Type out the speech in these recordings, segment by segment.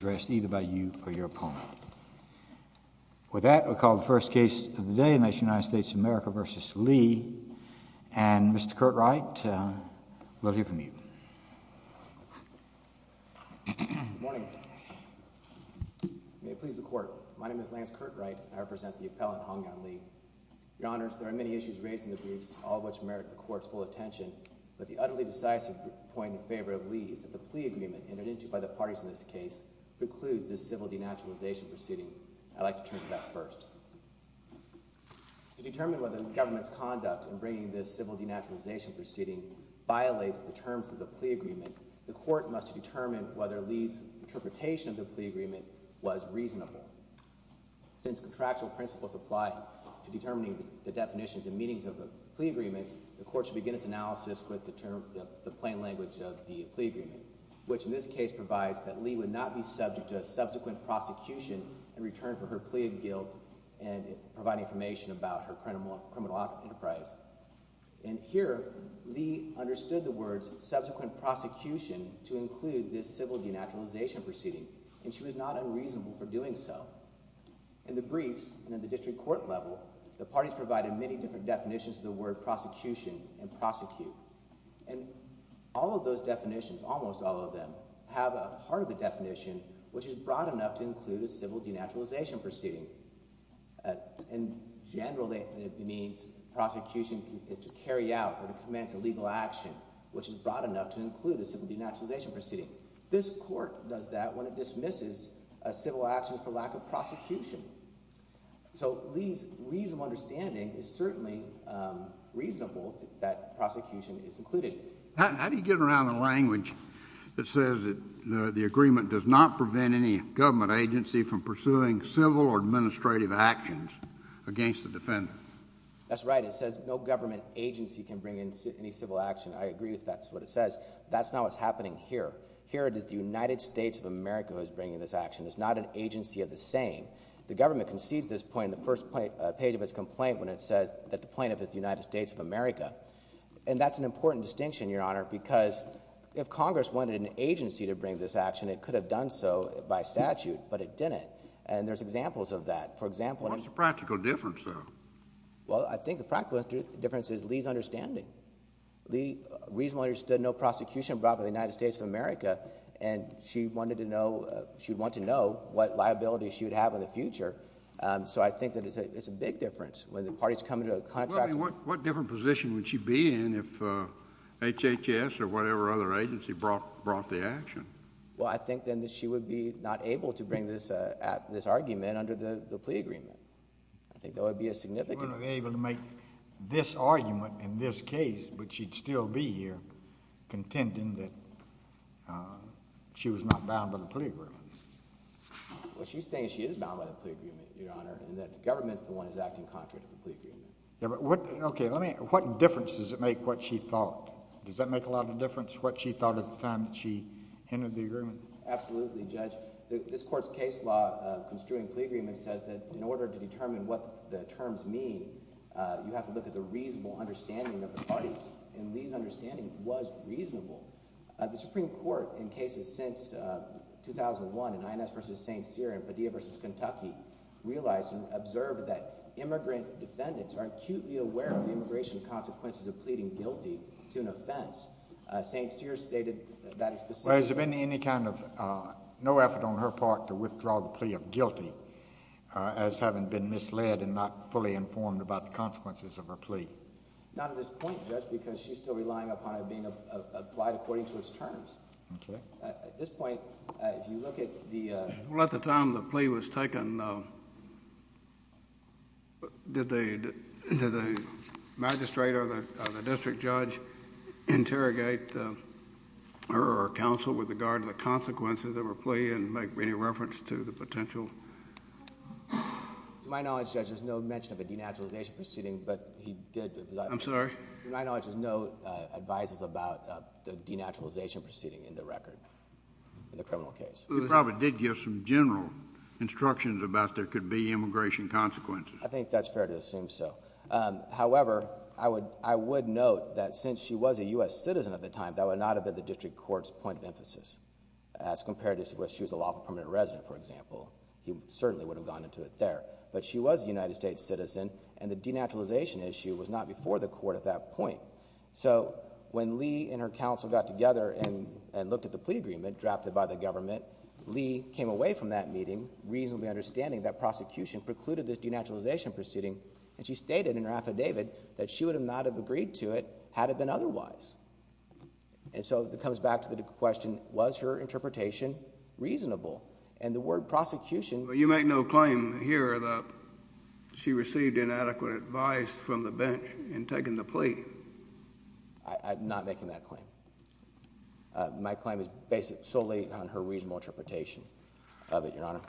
addressed either by you or your opponent. With that, we'll call the first case of the day, United States v. America v. Li, and Mr. Kurt Wright, we'll hear from you. Good morning. May it please the Court. My name is Lance Kurt Wright, and I represent the appellate Hongyan Li. Your Honors, there are many issues raised in the briefs, all of which merit the Court's full attention, but the utterly decisive point in favor of Li is that the plea agreement entered into by the parties in this case precludes this civil denaturalization proceeding. I'd like to turn to that first. To determine whether the government's conduct in bringing this civil denaturalization proceeding violates the terms of the plea agreement, the Court must determine whether Li's interpretation of the plea agreement was reasonable. Since contractual principles apply to determining the definitions and meanings of the plea agreements, the Court should begin its analysis with the plain language of the plea agreement, which in this case provides that Li would not be subject to a subsequent prosecution in return for her plea of guilt and provide information about her criminal enterprise. And here, Li understood the words subsequent prosecution to include this civil denaturalization proceeding, and she was not unreasonable for doing so. In the briefs and at the district court level, the parties provided many different definitions of the word prosecution and prosecute. And all of those definitions, almost all of them, have a part of the definition which is broad enough to include a civil denaturalization proceeding. In general, it means prosecution is to carry out or to commence a legal action which is broad enough to include a civil denaturalization proceeding. This court does that when it dismisses a civil action for lack of prosecution. So Li's reasonable understanding is certainly reasonable that prosecution is included. How do you get around the language that says that the agreement does not prevent any government agency from pursuing civil or administrative actions against the defendant? That's right. It says no government agency can bring in any civil action. I agree with that. That's what it says. That's not what's happening here. Here it is the United States of America who is bringing this action. It's not an agency of the same. The government concedes this point in the first page of its complaint when it says that the plaintiff is the United States of America. And that's an important distinction, Your Honor, because if Congress wanted an agency to bring this action, it could have done so by statute, but it didn't. And there's examples of that. For example— What's the practical difference, though? Well, I think the practical difference is Li's understanding. Li reasonably understood no prosecution brought by the United States of America and she wanted to know—she would want to know what liability she would have in the future. So I think that it's a big difference. When the parties come into a contract— What different position would she be in if HHS or whatever other agency brought the action? Well, I think then that she would be not able to bring this argument under the plea agreement. I think that would be a significant— She wouldn't be able to make this argument in this case, but she'd still be here contending that she was not bound by the plea agreement. Well, she's saying she is bound by the plea agreement, Your Honor, and that the government's the one that's acting contrary to the plea agreement. Okay, let me—what difference does it make what she thought? Does that make a lot of difference, what she thought at the time that she entered the agreement? Absolutely, Judge. This Court's case law construing plea agreements says that in order to determine what the terms mean, you have to look at the reasonable understanding of the parties, and Lee's understanding was reasonable. The Supreme Court, in cases since 2001 in INS v. St. Cyr and Padilla v. Kentucky, realized and observed that immigrant defendants are acutely aware of the immigration consequences of pleading guilty to an offense. St. Cyr stated that explicitly. Well, has there been any kind of—no effort on her part to withdraw the plea of guilty as having been misled and not fully informed about the consequences of her plea? Not at this point, Judge, because she's still relying upon it being applied according to its terms. Okay. At this point, if you look at the— Well, at the time the plea was taken, did the magistrate or the district judge interrogate her or counsel with regard to the consequences of her plea and make any reference to the potentials? To my knowledge, Judge, there's no mention of a denaturalization proceeding, but he did— I'm sorry? To my knowledge, there's no advisers about the denaturalization proceeding in the record in the criminal case. He probably did give some general instructions about there could be immigration consequences. I think that's fair to assume so. However, I would note that since she was a U.S. citizen at the time, that would not have been the district court's point of emphasis as compared to where she was a lawful permanent resident, for example. He certainly would have gone into it there. But she was a United States citizen, and the denaturalization issue was not before the court at that point. So when Lee and her counsel got together and looked at the plea agreement drafted by the government, Lee came away from that meeting reasonably understanding that prosecution precluded this denaturalization proceeding, and she stated in her affidavit that she would not have agreed to it had it been otherwise. And so it comes back to the question, was her interpretation reasonable? And the word prosecution— You make no claim here that she received inadequate advice from the bench in taking the plea. I'm not making that claim. My claim is based solely on her reasonable interpretation of it, Your Honor.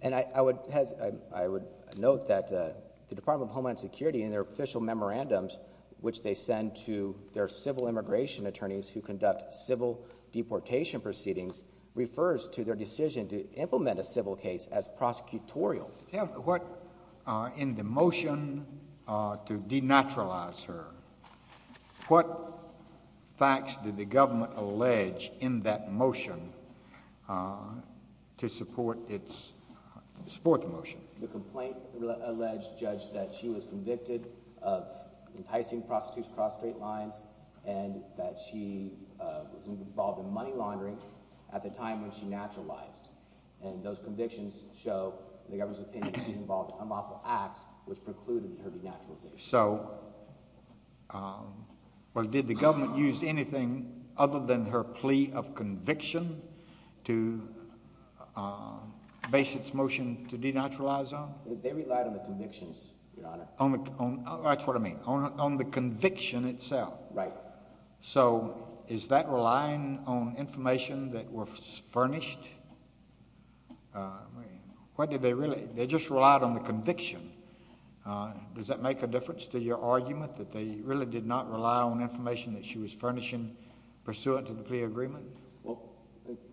And I would note that the Department of Homeland Security, in their official memorandums, which they send to their civil immigration attorneys who conduct civil deportation proceedings, refers to their decision to implement a civil case as prosecutorial. In the motion to denaturalize her, what facts did the government allege in that motion to support the motion? The complaint alleged, Judge, that she was convicted of enticing prostitutes across straight lines and that she was involved in money laundering at the time when she naturalized. And those convictions show the government's opinion that she was involved in unlawful acts, which precluded her denaturalization. So did the government use anything other than her plea of conviction to base its motion to denaturalize on? They relied on the convictions, Your Honor. That's what I mean, on the conviction itself. Right. So is that relying on information that was furnished? They just relied on the conviction. Does that make a difference to your argument that they really did not rely on information that she was furnishing pursuant to the plea agreement? Well,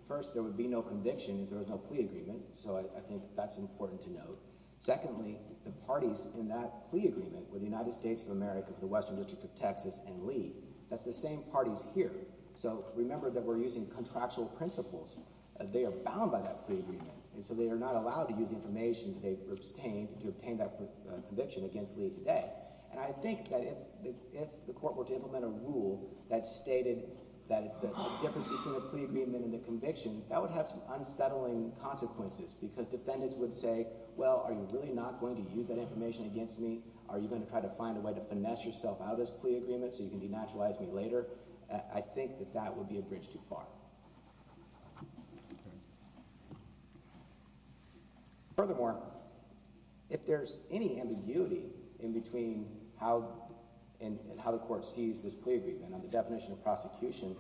first, there would be no conviction if there was no plea agreement, so I think that's important to note. Secondly, the parties in that plea agreement were the United States of America, the Western District of Texas, and Lee. That's the same parties here. So remember that we're using contractual principles. They are bound by that plea agreement, and so they are not allowed to use information to obtain that conviction against Lee today. And I think that if the court were to implement a rule that stated that the difference between the plea agreement and the conviction, that would have some unsettling consequences because defendants would say, well, are you really not going to use that information against me? Are you going to try to find a way to finesse yourself out of this plea agreement so you can denaturalize me later? I think that that would be a bridge too far. Furthermore, if there's any ambiguity in between how the court sees this plea agreement and the definition of prosecution,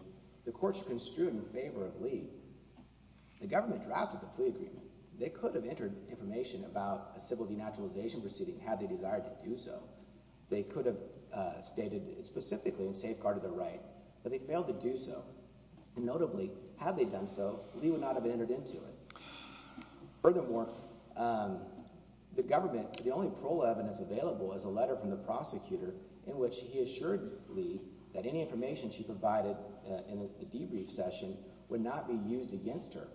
the courts are construed in favor of Lee. The government drafted the plea agreement. They could have entered information about a civil denaturalization proceeding had they desired to do so. They could have stated specifically in safeguard of their right, but they failed to do so. And notably, had they done so, Lee would not have entered into it. Furthermore, the government – the only parole evidence available is a letter from the prosecutor in which he assured Lee that any information she provided in a debrief session would not be used against her.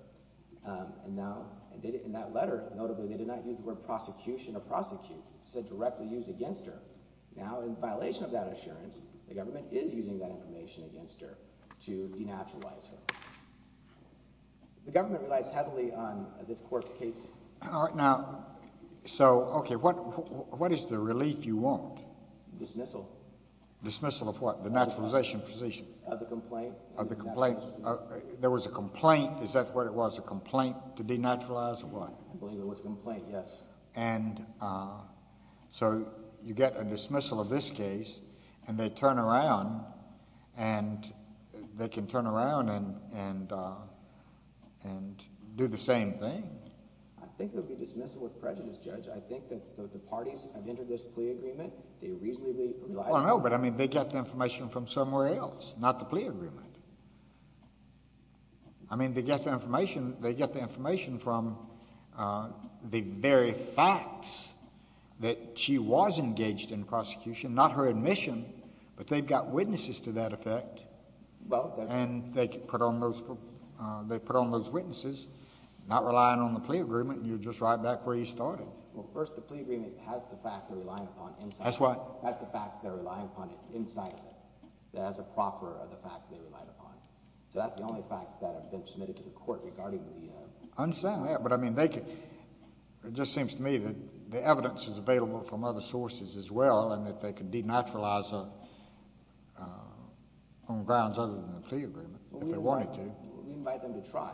And now in that letter, notably, they did not use the word prosecution or prosecute. It said directly used against her. Now in violation of that assurance, the government is using that information against her to denaturalize her. The government relies heavily on this court's case. All right. Now – so, okay. What is the relief you want? Dismissal. Dismissal of what? The denaturalization proceeding. Of the complaint. Of the complaint. There was a complaint. Is that what it was, a complaint to denaturalize or what? I believe it was a complaint, yes. And so you get a dismissal of this case and they turn around and they can turn around and do the same thing. I think it would be dismissal with prejudice, Judge. I think that the parties have entered this plea agreement. They reasonably – Well, no, but I mean they get the information from somewhere else, not the plea agreement. I mean they get the information from the very facts that she was engaged in prosecution, not her admission, but they've got witnesses to that effect. And they put on those witnesses, not relying on the plea agreement, and you're just right back where you started. Well, first the plea agreement has the facts they're relying upon in sight. That's what? So that's the only facts that have been submitted to the court regarding the – I understand that, but I mean they could – it just seems to me that the evidence is available from other sources as well and that they could denaturalize on grounds other than the plea agreement if they wanted to. We invite them to try,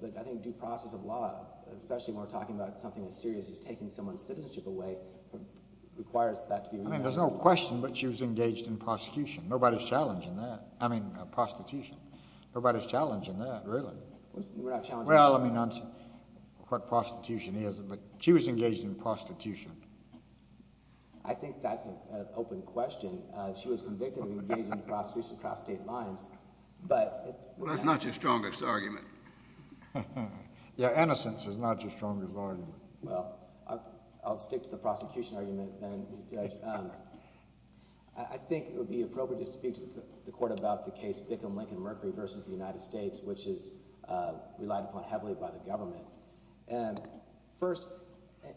but I think due process of law, especially when we're talking about something as serious as taking someone's citizenship away, requires that to be – I mean there's no question, but she was engaged in prosecution. Nobody's challenging that – I mean prostitution. Nobody's challenging that, really. We're not challenging that. Well, I mean what prostitution is, but she was engaged in prostitution. I think that's an open question. She was convicted of engaging in prostitution across state lines, but – Well, that's not your strongest argument. Yeah, innocence is not your strongest argument. Well, I'll stick to the prosecution argument then, Judge. I think it would be appropriate to speak to the court about the case Bickham-Lincoln-Mercury v. the United States, which is relied upon heavily by the government. First,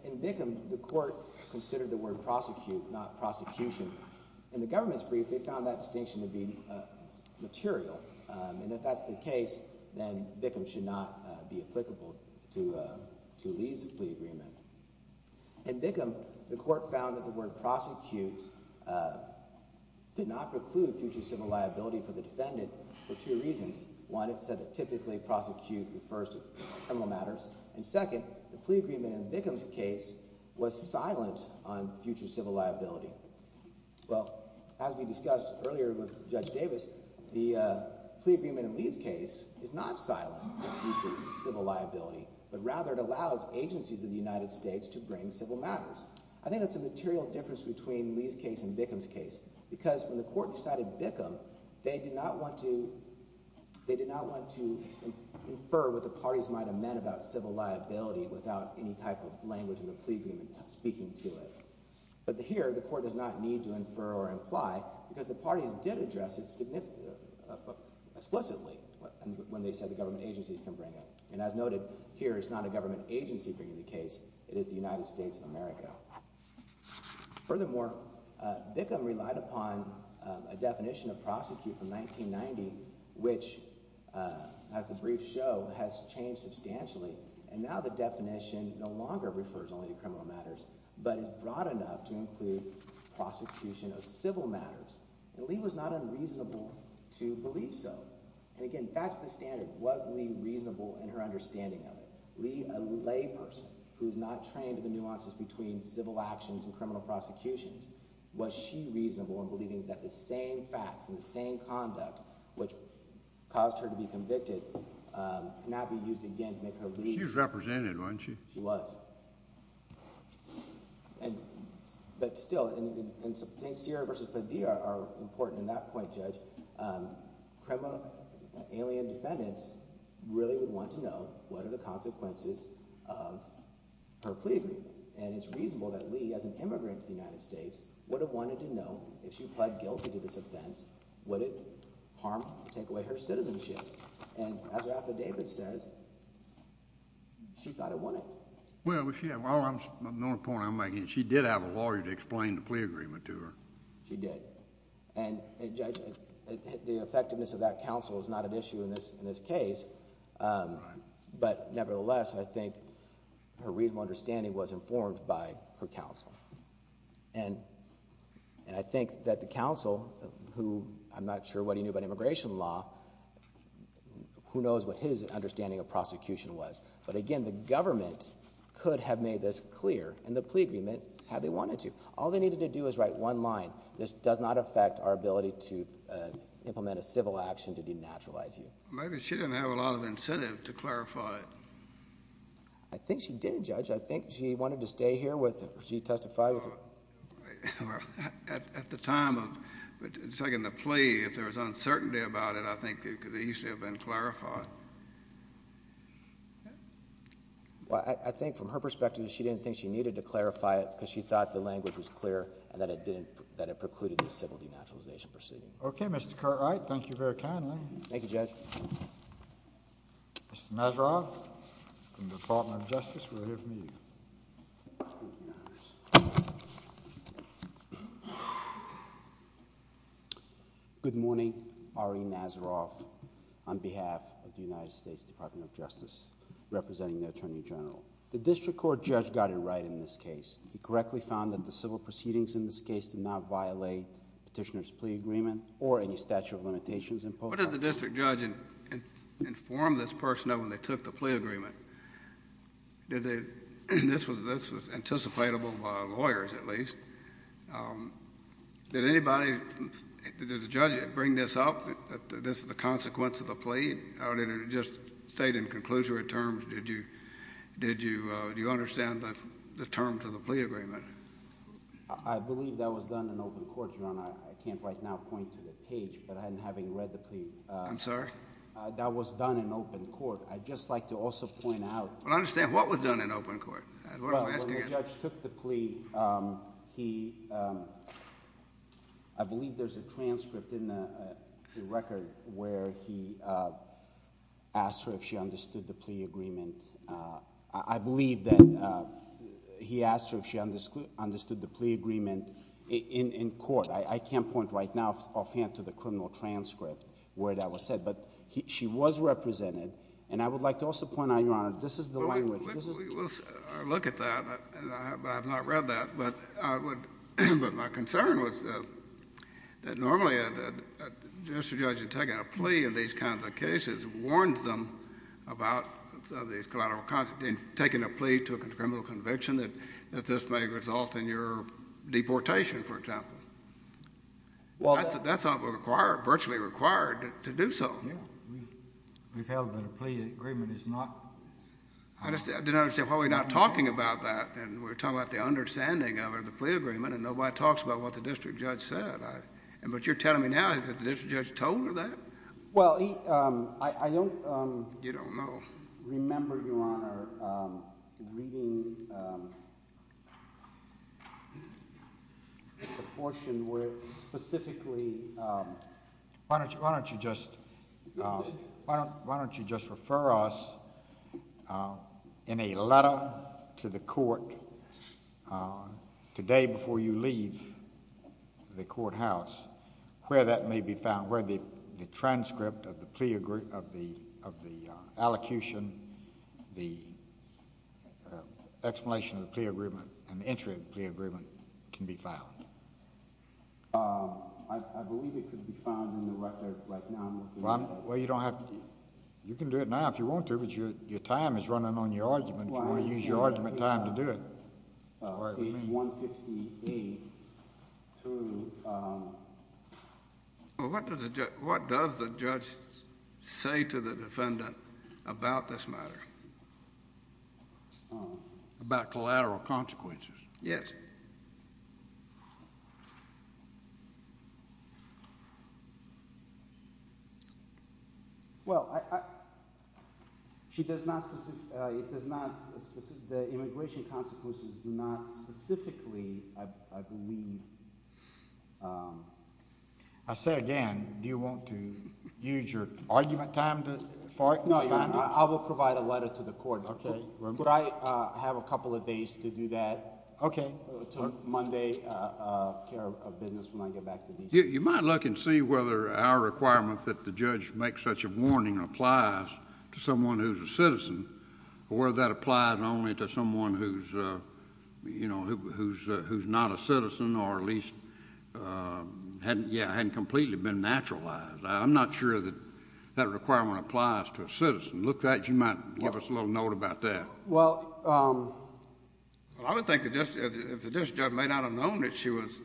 in Bickham, the court considered the word prosecute, not prosecution. In the government's brief, they found that distinction to be material, and if that's the case, then Bickham should not be applicable to Lee's plea agreement. In Bickham, the court found that the word prosecute did not preclude future civil liability for the defendant for two reasons. One, it said that typically prosecute refers to criminal matters, and second, the plea agreement in Bickham's case was silent on future civil liability. Well, as we discussed earlier with Judge Davis, the plea agreement in Lee's case is not silent on future civil liability, but rather it allows agencies of the United States to bring civil matters. I think that's a material difference between Lee's case and Bickham's case, because when the court decided Bickham, they did not want to infer what the parties might have meant about civil liability without any type of language in the plea agreement speaking to it. But here, the court does not need to infer or imply, because the parties did address it explicitly when they said the government agencies can bring it. And as noted, here it's not a government agency bringing the case. It is the United States of America. Furthermore, Bickham relied upon a definition of prosecute from 1990, which, as the briefs show, has changed substantially. And now the definition no longer refers only to criminal matters but is broad enough to include prosecution of civil matters. And Lee was not unreasonable to believe so. And again, that's the standard. Was Lee reasonable in her understanding of it? Lee, a layperson who is not trained in the nuances between civil actions and criminal prosecutions, was she reasonable in believing that the same facts and the same conduct which caused her to be convicted cannot be used again to make her leave? She was represented, wasn't she? She was. But still, I think Sierra v. Padilla are important in that point, Judge. Criminal – alien defendants really would want to know what are the consequences of her plea agreement. And it's reasonable that Lee, as an immigrant to the United States, would have wanted to know if she pled guilty to this offense, would it harm – take away her citizenship? And as her affidavit says, she thought it wouldn't. Well, the only point I'm making is she did have a lawyer to explain the plea agreement to her. She did. And Judge, the effectiveness of that counsel is not an issue in this case. But nevertheless, I think her reasonable understanding was informed by her counsel. And I think that the counsel, who I'm not sure what he knew about immigration law, who knows what his understanding of prosecution was? But again, the government could have made this clear in the plea agreement had they wanted to. All they needed to do was write one line. This does not affect our ability to implement a civil action to denaturalize you. Maybe she didn't have a lot of incentive to clarify it. I think she did, Judge. I think she wanted to stay here with – she testified with – at the time of taking the plea, if there was uncertainty about it, I think it could easily have been clarified. Well, I think from her perspective, she didn't think she needed to clarify it because she thought the language was clear and that it didn't – that it precluded the civil denaturalization proceeding. Okay, Mr. Cartwright. Thank you very kindly. Thank you, Judge. Mr. Nazaroff, from the Department of Justice, we're here for you. Good morning. Ari Nazaroff, on behalf of the United States Department of Justice, representing the Attorney General. The district court judge got it right in this case. He correctly found that the civil proceedings in this case did not violate petitioner's plea agreement or any statute of limitations. What did the district judge inform this person of when they took the plea agreement? Did they – this was anticipatable by lawyers, at least. Did anybody – did the judge bring this up, that this is the consequence of the plea? Or did it just stay in conclusory terms? Did you understand the terms of the plea agreement? I can't right now point to the page, but having read the plea – I'm sorry? That was done in open court. I'd just like to also point out – Well, I understand what was done in open court. When the judge took the plea, he – I believe there's a transcript in the record where he asked her if she understood the plea agreement. I believe that he asked her if she understood the plea agreement in court. I can't point right now offhand to the criminal transcript where that was said. But she was represented. And I would like to also point out, Your Honor, this is the language. We'll look at that. I have not read that. But my concern was that normally just a judge taking a plea in these kinds of cases warns them about these collateral consequences. Taking a plea to a criminal conviction, that this may result in your deportation, for example. That's virtually required to do so. We've held that a plea agreement is not – I didn't understand. Well, we're not talking about that. We're talking about the understanding of the plea agreement, and nobody talks about what the district judge said. But you're telling me now that the district judge told her that? Well, I don't – You don't know. Remember, Your Honor, reading the portion where it specifically – Why don't you just refer us in a letter to the court today before you leave the courthouse where that may be found, where the transcript of the plea – of the allocution, the explanation of the plea agreement, and the entry of the plea agreement can be found? I believe it could be found in the record right now. Well, you don't have to – you can do it now if you want to, but your time is running on your argument. You want to use your argument time to do it. Page 158 to – Well, what does the judge say to the defendant about this matter? About collateral consequences? Yes. Well, she does not – it does not – the immigration consequences do not specifically, I believe – I say again, do you want to use your argument time to – No, Your Honor, I will provide a letter to the court. Okay. Could I have a couple of days to do that? Okay. Until Monday, care of business when I get back to DC. You might look and see whether our requirement that the judge make such a warning applies to someone who's a citizen or whether that applies only to someone who's not a citizen or at least hadn't completely been naturalized. You might leave us a little note about that. Well, I would think that if the judge may not have known that she was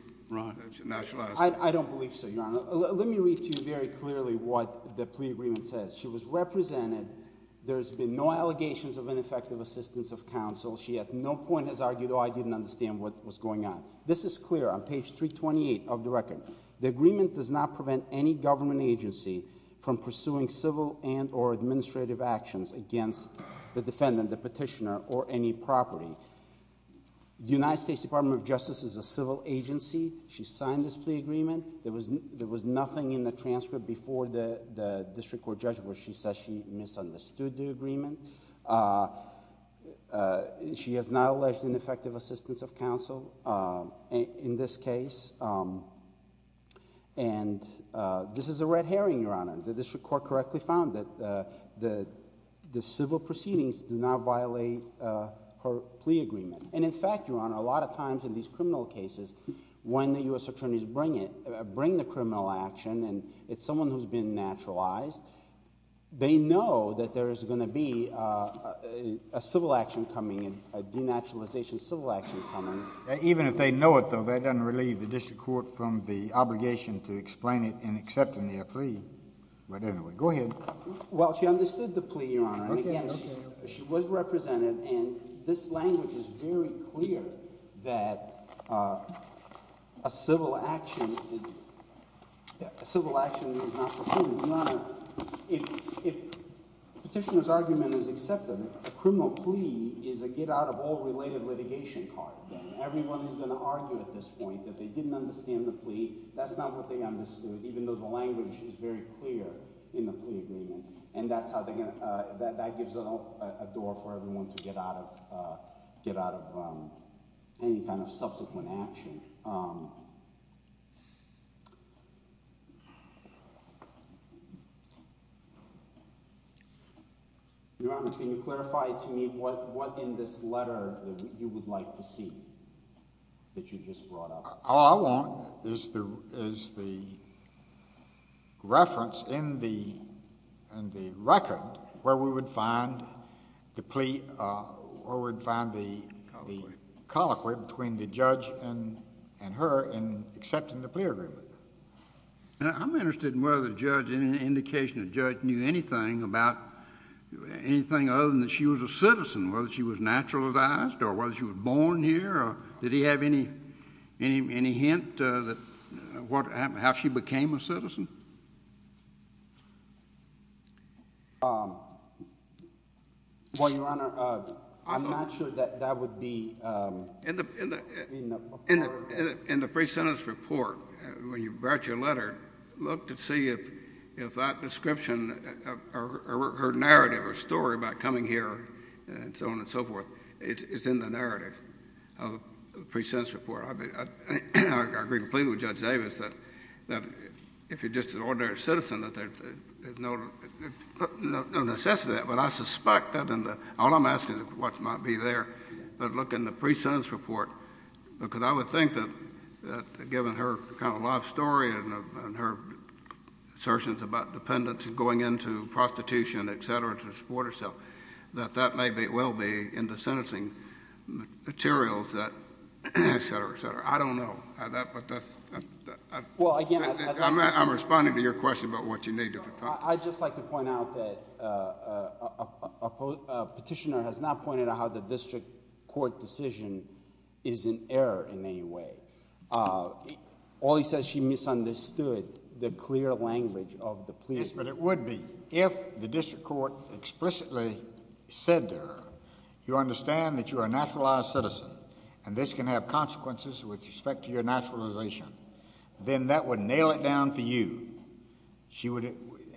naturalized. I don't believe so, Your Honor. Let me read to you very clearly what the plea agreement says. She was represented. There's been no allegations of ineffective assistance of counsel. She at no point has argued, oh, I didn't understand what was going on. This is clear on page 328 of the record. The agreement does not prevent any government agency from pursuing civil and or administrative actions against the defendant, the petitioner, or any property. The United States Department of Justice is a civil agency. She signed this plea agreement. There was nothing in the transcript before the district court judgment where she says she misunderstood the agreement. She has not alleged ineffective assistance of counsel in this case. And this is a red herring, Your Honor. The district court correctly found that the civil proceedings do not violate her plea agreement. And in fact, Your Honor, a lot of times in these criminal cases, when the U.S. attorneys bring it, bring the criminal action and it's someone who's been naturalized, they know that there is going to be a civil action coming, a denaturalization civil action coming. Even if they know it, though, that doesn't relieve the district court from the obligation to explain it in accepting their plea. But anyway, go ahead. Well, she understood the plea, Your Honor. And again, she was represented. And this language is very clear that a civil action is not for criminal. If the petitioner's argument is accepted, a criminal plea is a get-out-of-all-related litigation card. Everyone is going to argue at this point that they didn't understand the plea. That's not what they understood, even though the language is very clear in the plea agreement. And that's how they're going to – that gives a door for everyone to get out of any kind of subsequent action. Your Honor, can you clarify to me what in this letter you would like to see that you just brought up? All I want is the reference in the record where we would find the plea or we would find the colloquy between the judge and her in accepting the plea agreement. I'm interested in whether the judge, any indication the judge knew anything about anything other than that she was a citizen, whether she was naturalized or whether she was born here. Did he have any hint how she became a citizen? Well, Your Honor, I'm not sure that that would be in the report. In the pre-sentence report, when you brought your letter, look to see if that description or narrative or story about coming here and so on and so forth, it's in the narrative of the pre-sentence report. I agree completely with Judge Davis that if you're just an ordinary citizen that there's no necessity of that. All I'm asking is what might be there. But look in the pre-sentence report, because I would think that given her kind of life story and her assertions about dependents going into prostitution, et cetera, to support herself, that that maybe will be in the sentencing materials, et cetera, et cetera. I don't know. I'm responding to your question about what you need. I'd just like to point out that a petitioner has not pointed out how the district court decision is in error in any way. All he says she misunderstood the clear language of the plea. Yes, but it would be. If the district court explicitly said to her, you understand that you're a naturalized citizen, and this can have consequences with respect to your naturalization, then that would nail it down for you.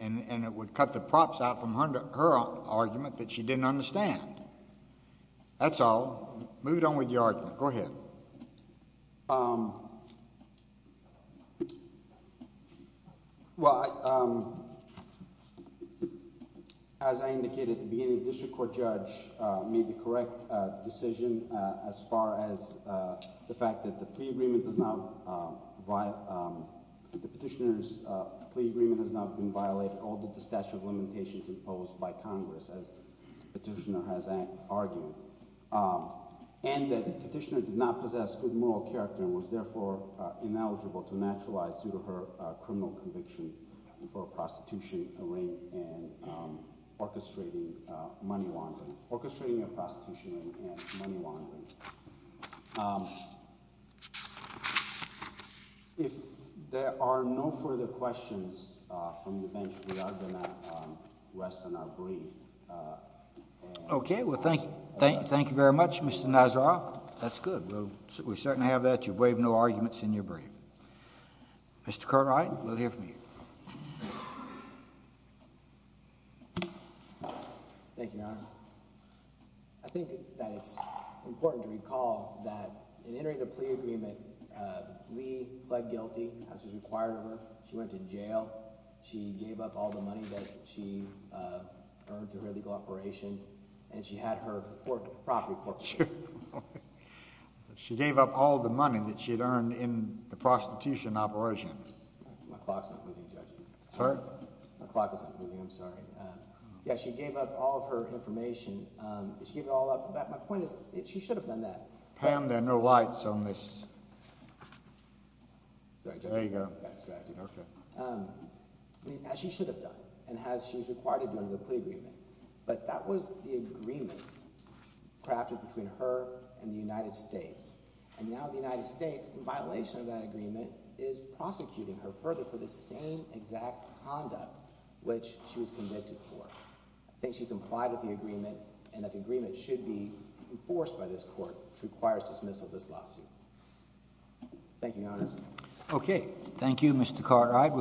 And it would cut the props out from her argument that she didn't understand. That's all. Move on with your argument. Go ahead. Well, as I indicated at the beginning, the district court judge made the correct decision as far as the fact that the plea agreement does not – the petitioner's plea agreement has not been violated, although the statute of limitations imposed by Congress, as the petitioner has argued. And the petitioner did not possess good moral character and was therefore ineligible to naturalize due to her criminal conviction for prostitution, arraignment, and orchestrating money laundering – orchestrating a prostitution and money laundering. If there are no further questions from the bench, we are going to rest and agree. Okay, well, thank you very much, Mr. Nazaroff. That's good. We certainly have that. You've waived no arguments in your brief. Mr. Cartwright, we'll hear from you. Thank you, Your Honor. I think that it's important to recall that in entering the plea agreement, Lee pled guilty as was required of her. She went to jail. She gave up all the money that she earned through her legal operation, and she had her property forfeit. She gave up all the money that she had earned in the prostitution operation. My clock's not moving, Judge. Sorry? My clock isn't moving. I'm sorry. Yeah, she gave up all of her information. She gave it all up. My point is, she should have done that. Pam, there are no lights on this. Sorry, Judge. There you go. As she should have done, and as she was required to do under the plea agreement. But that was the agreement crafted between her and the United States. And now the United States, in violation of that agreement, is prosecuting her further for the same exact conduct which she was convicted for. I think she complied with the agreement, and that the agreement should be enforced by this court, which requires dismissal of this lawsuit. Thank you, Your Honor. Thank you, Justice. Okay. Thank you, Mr. Cartwright.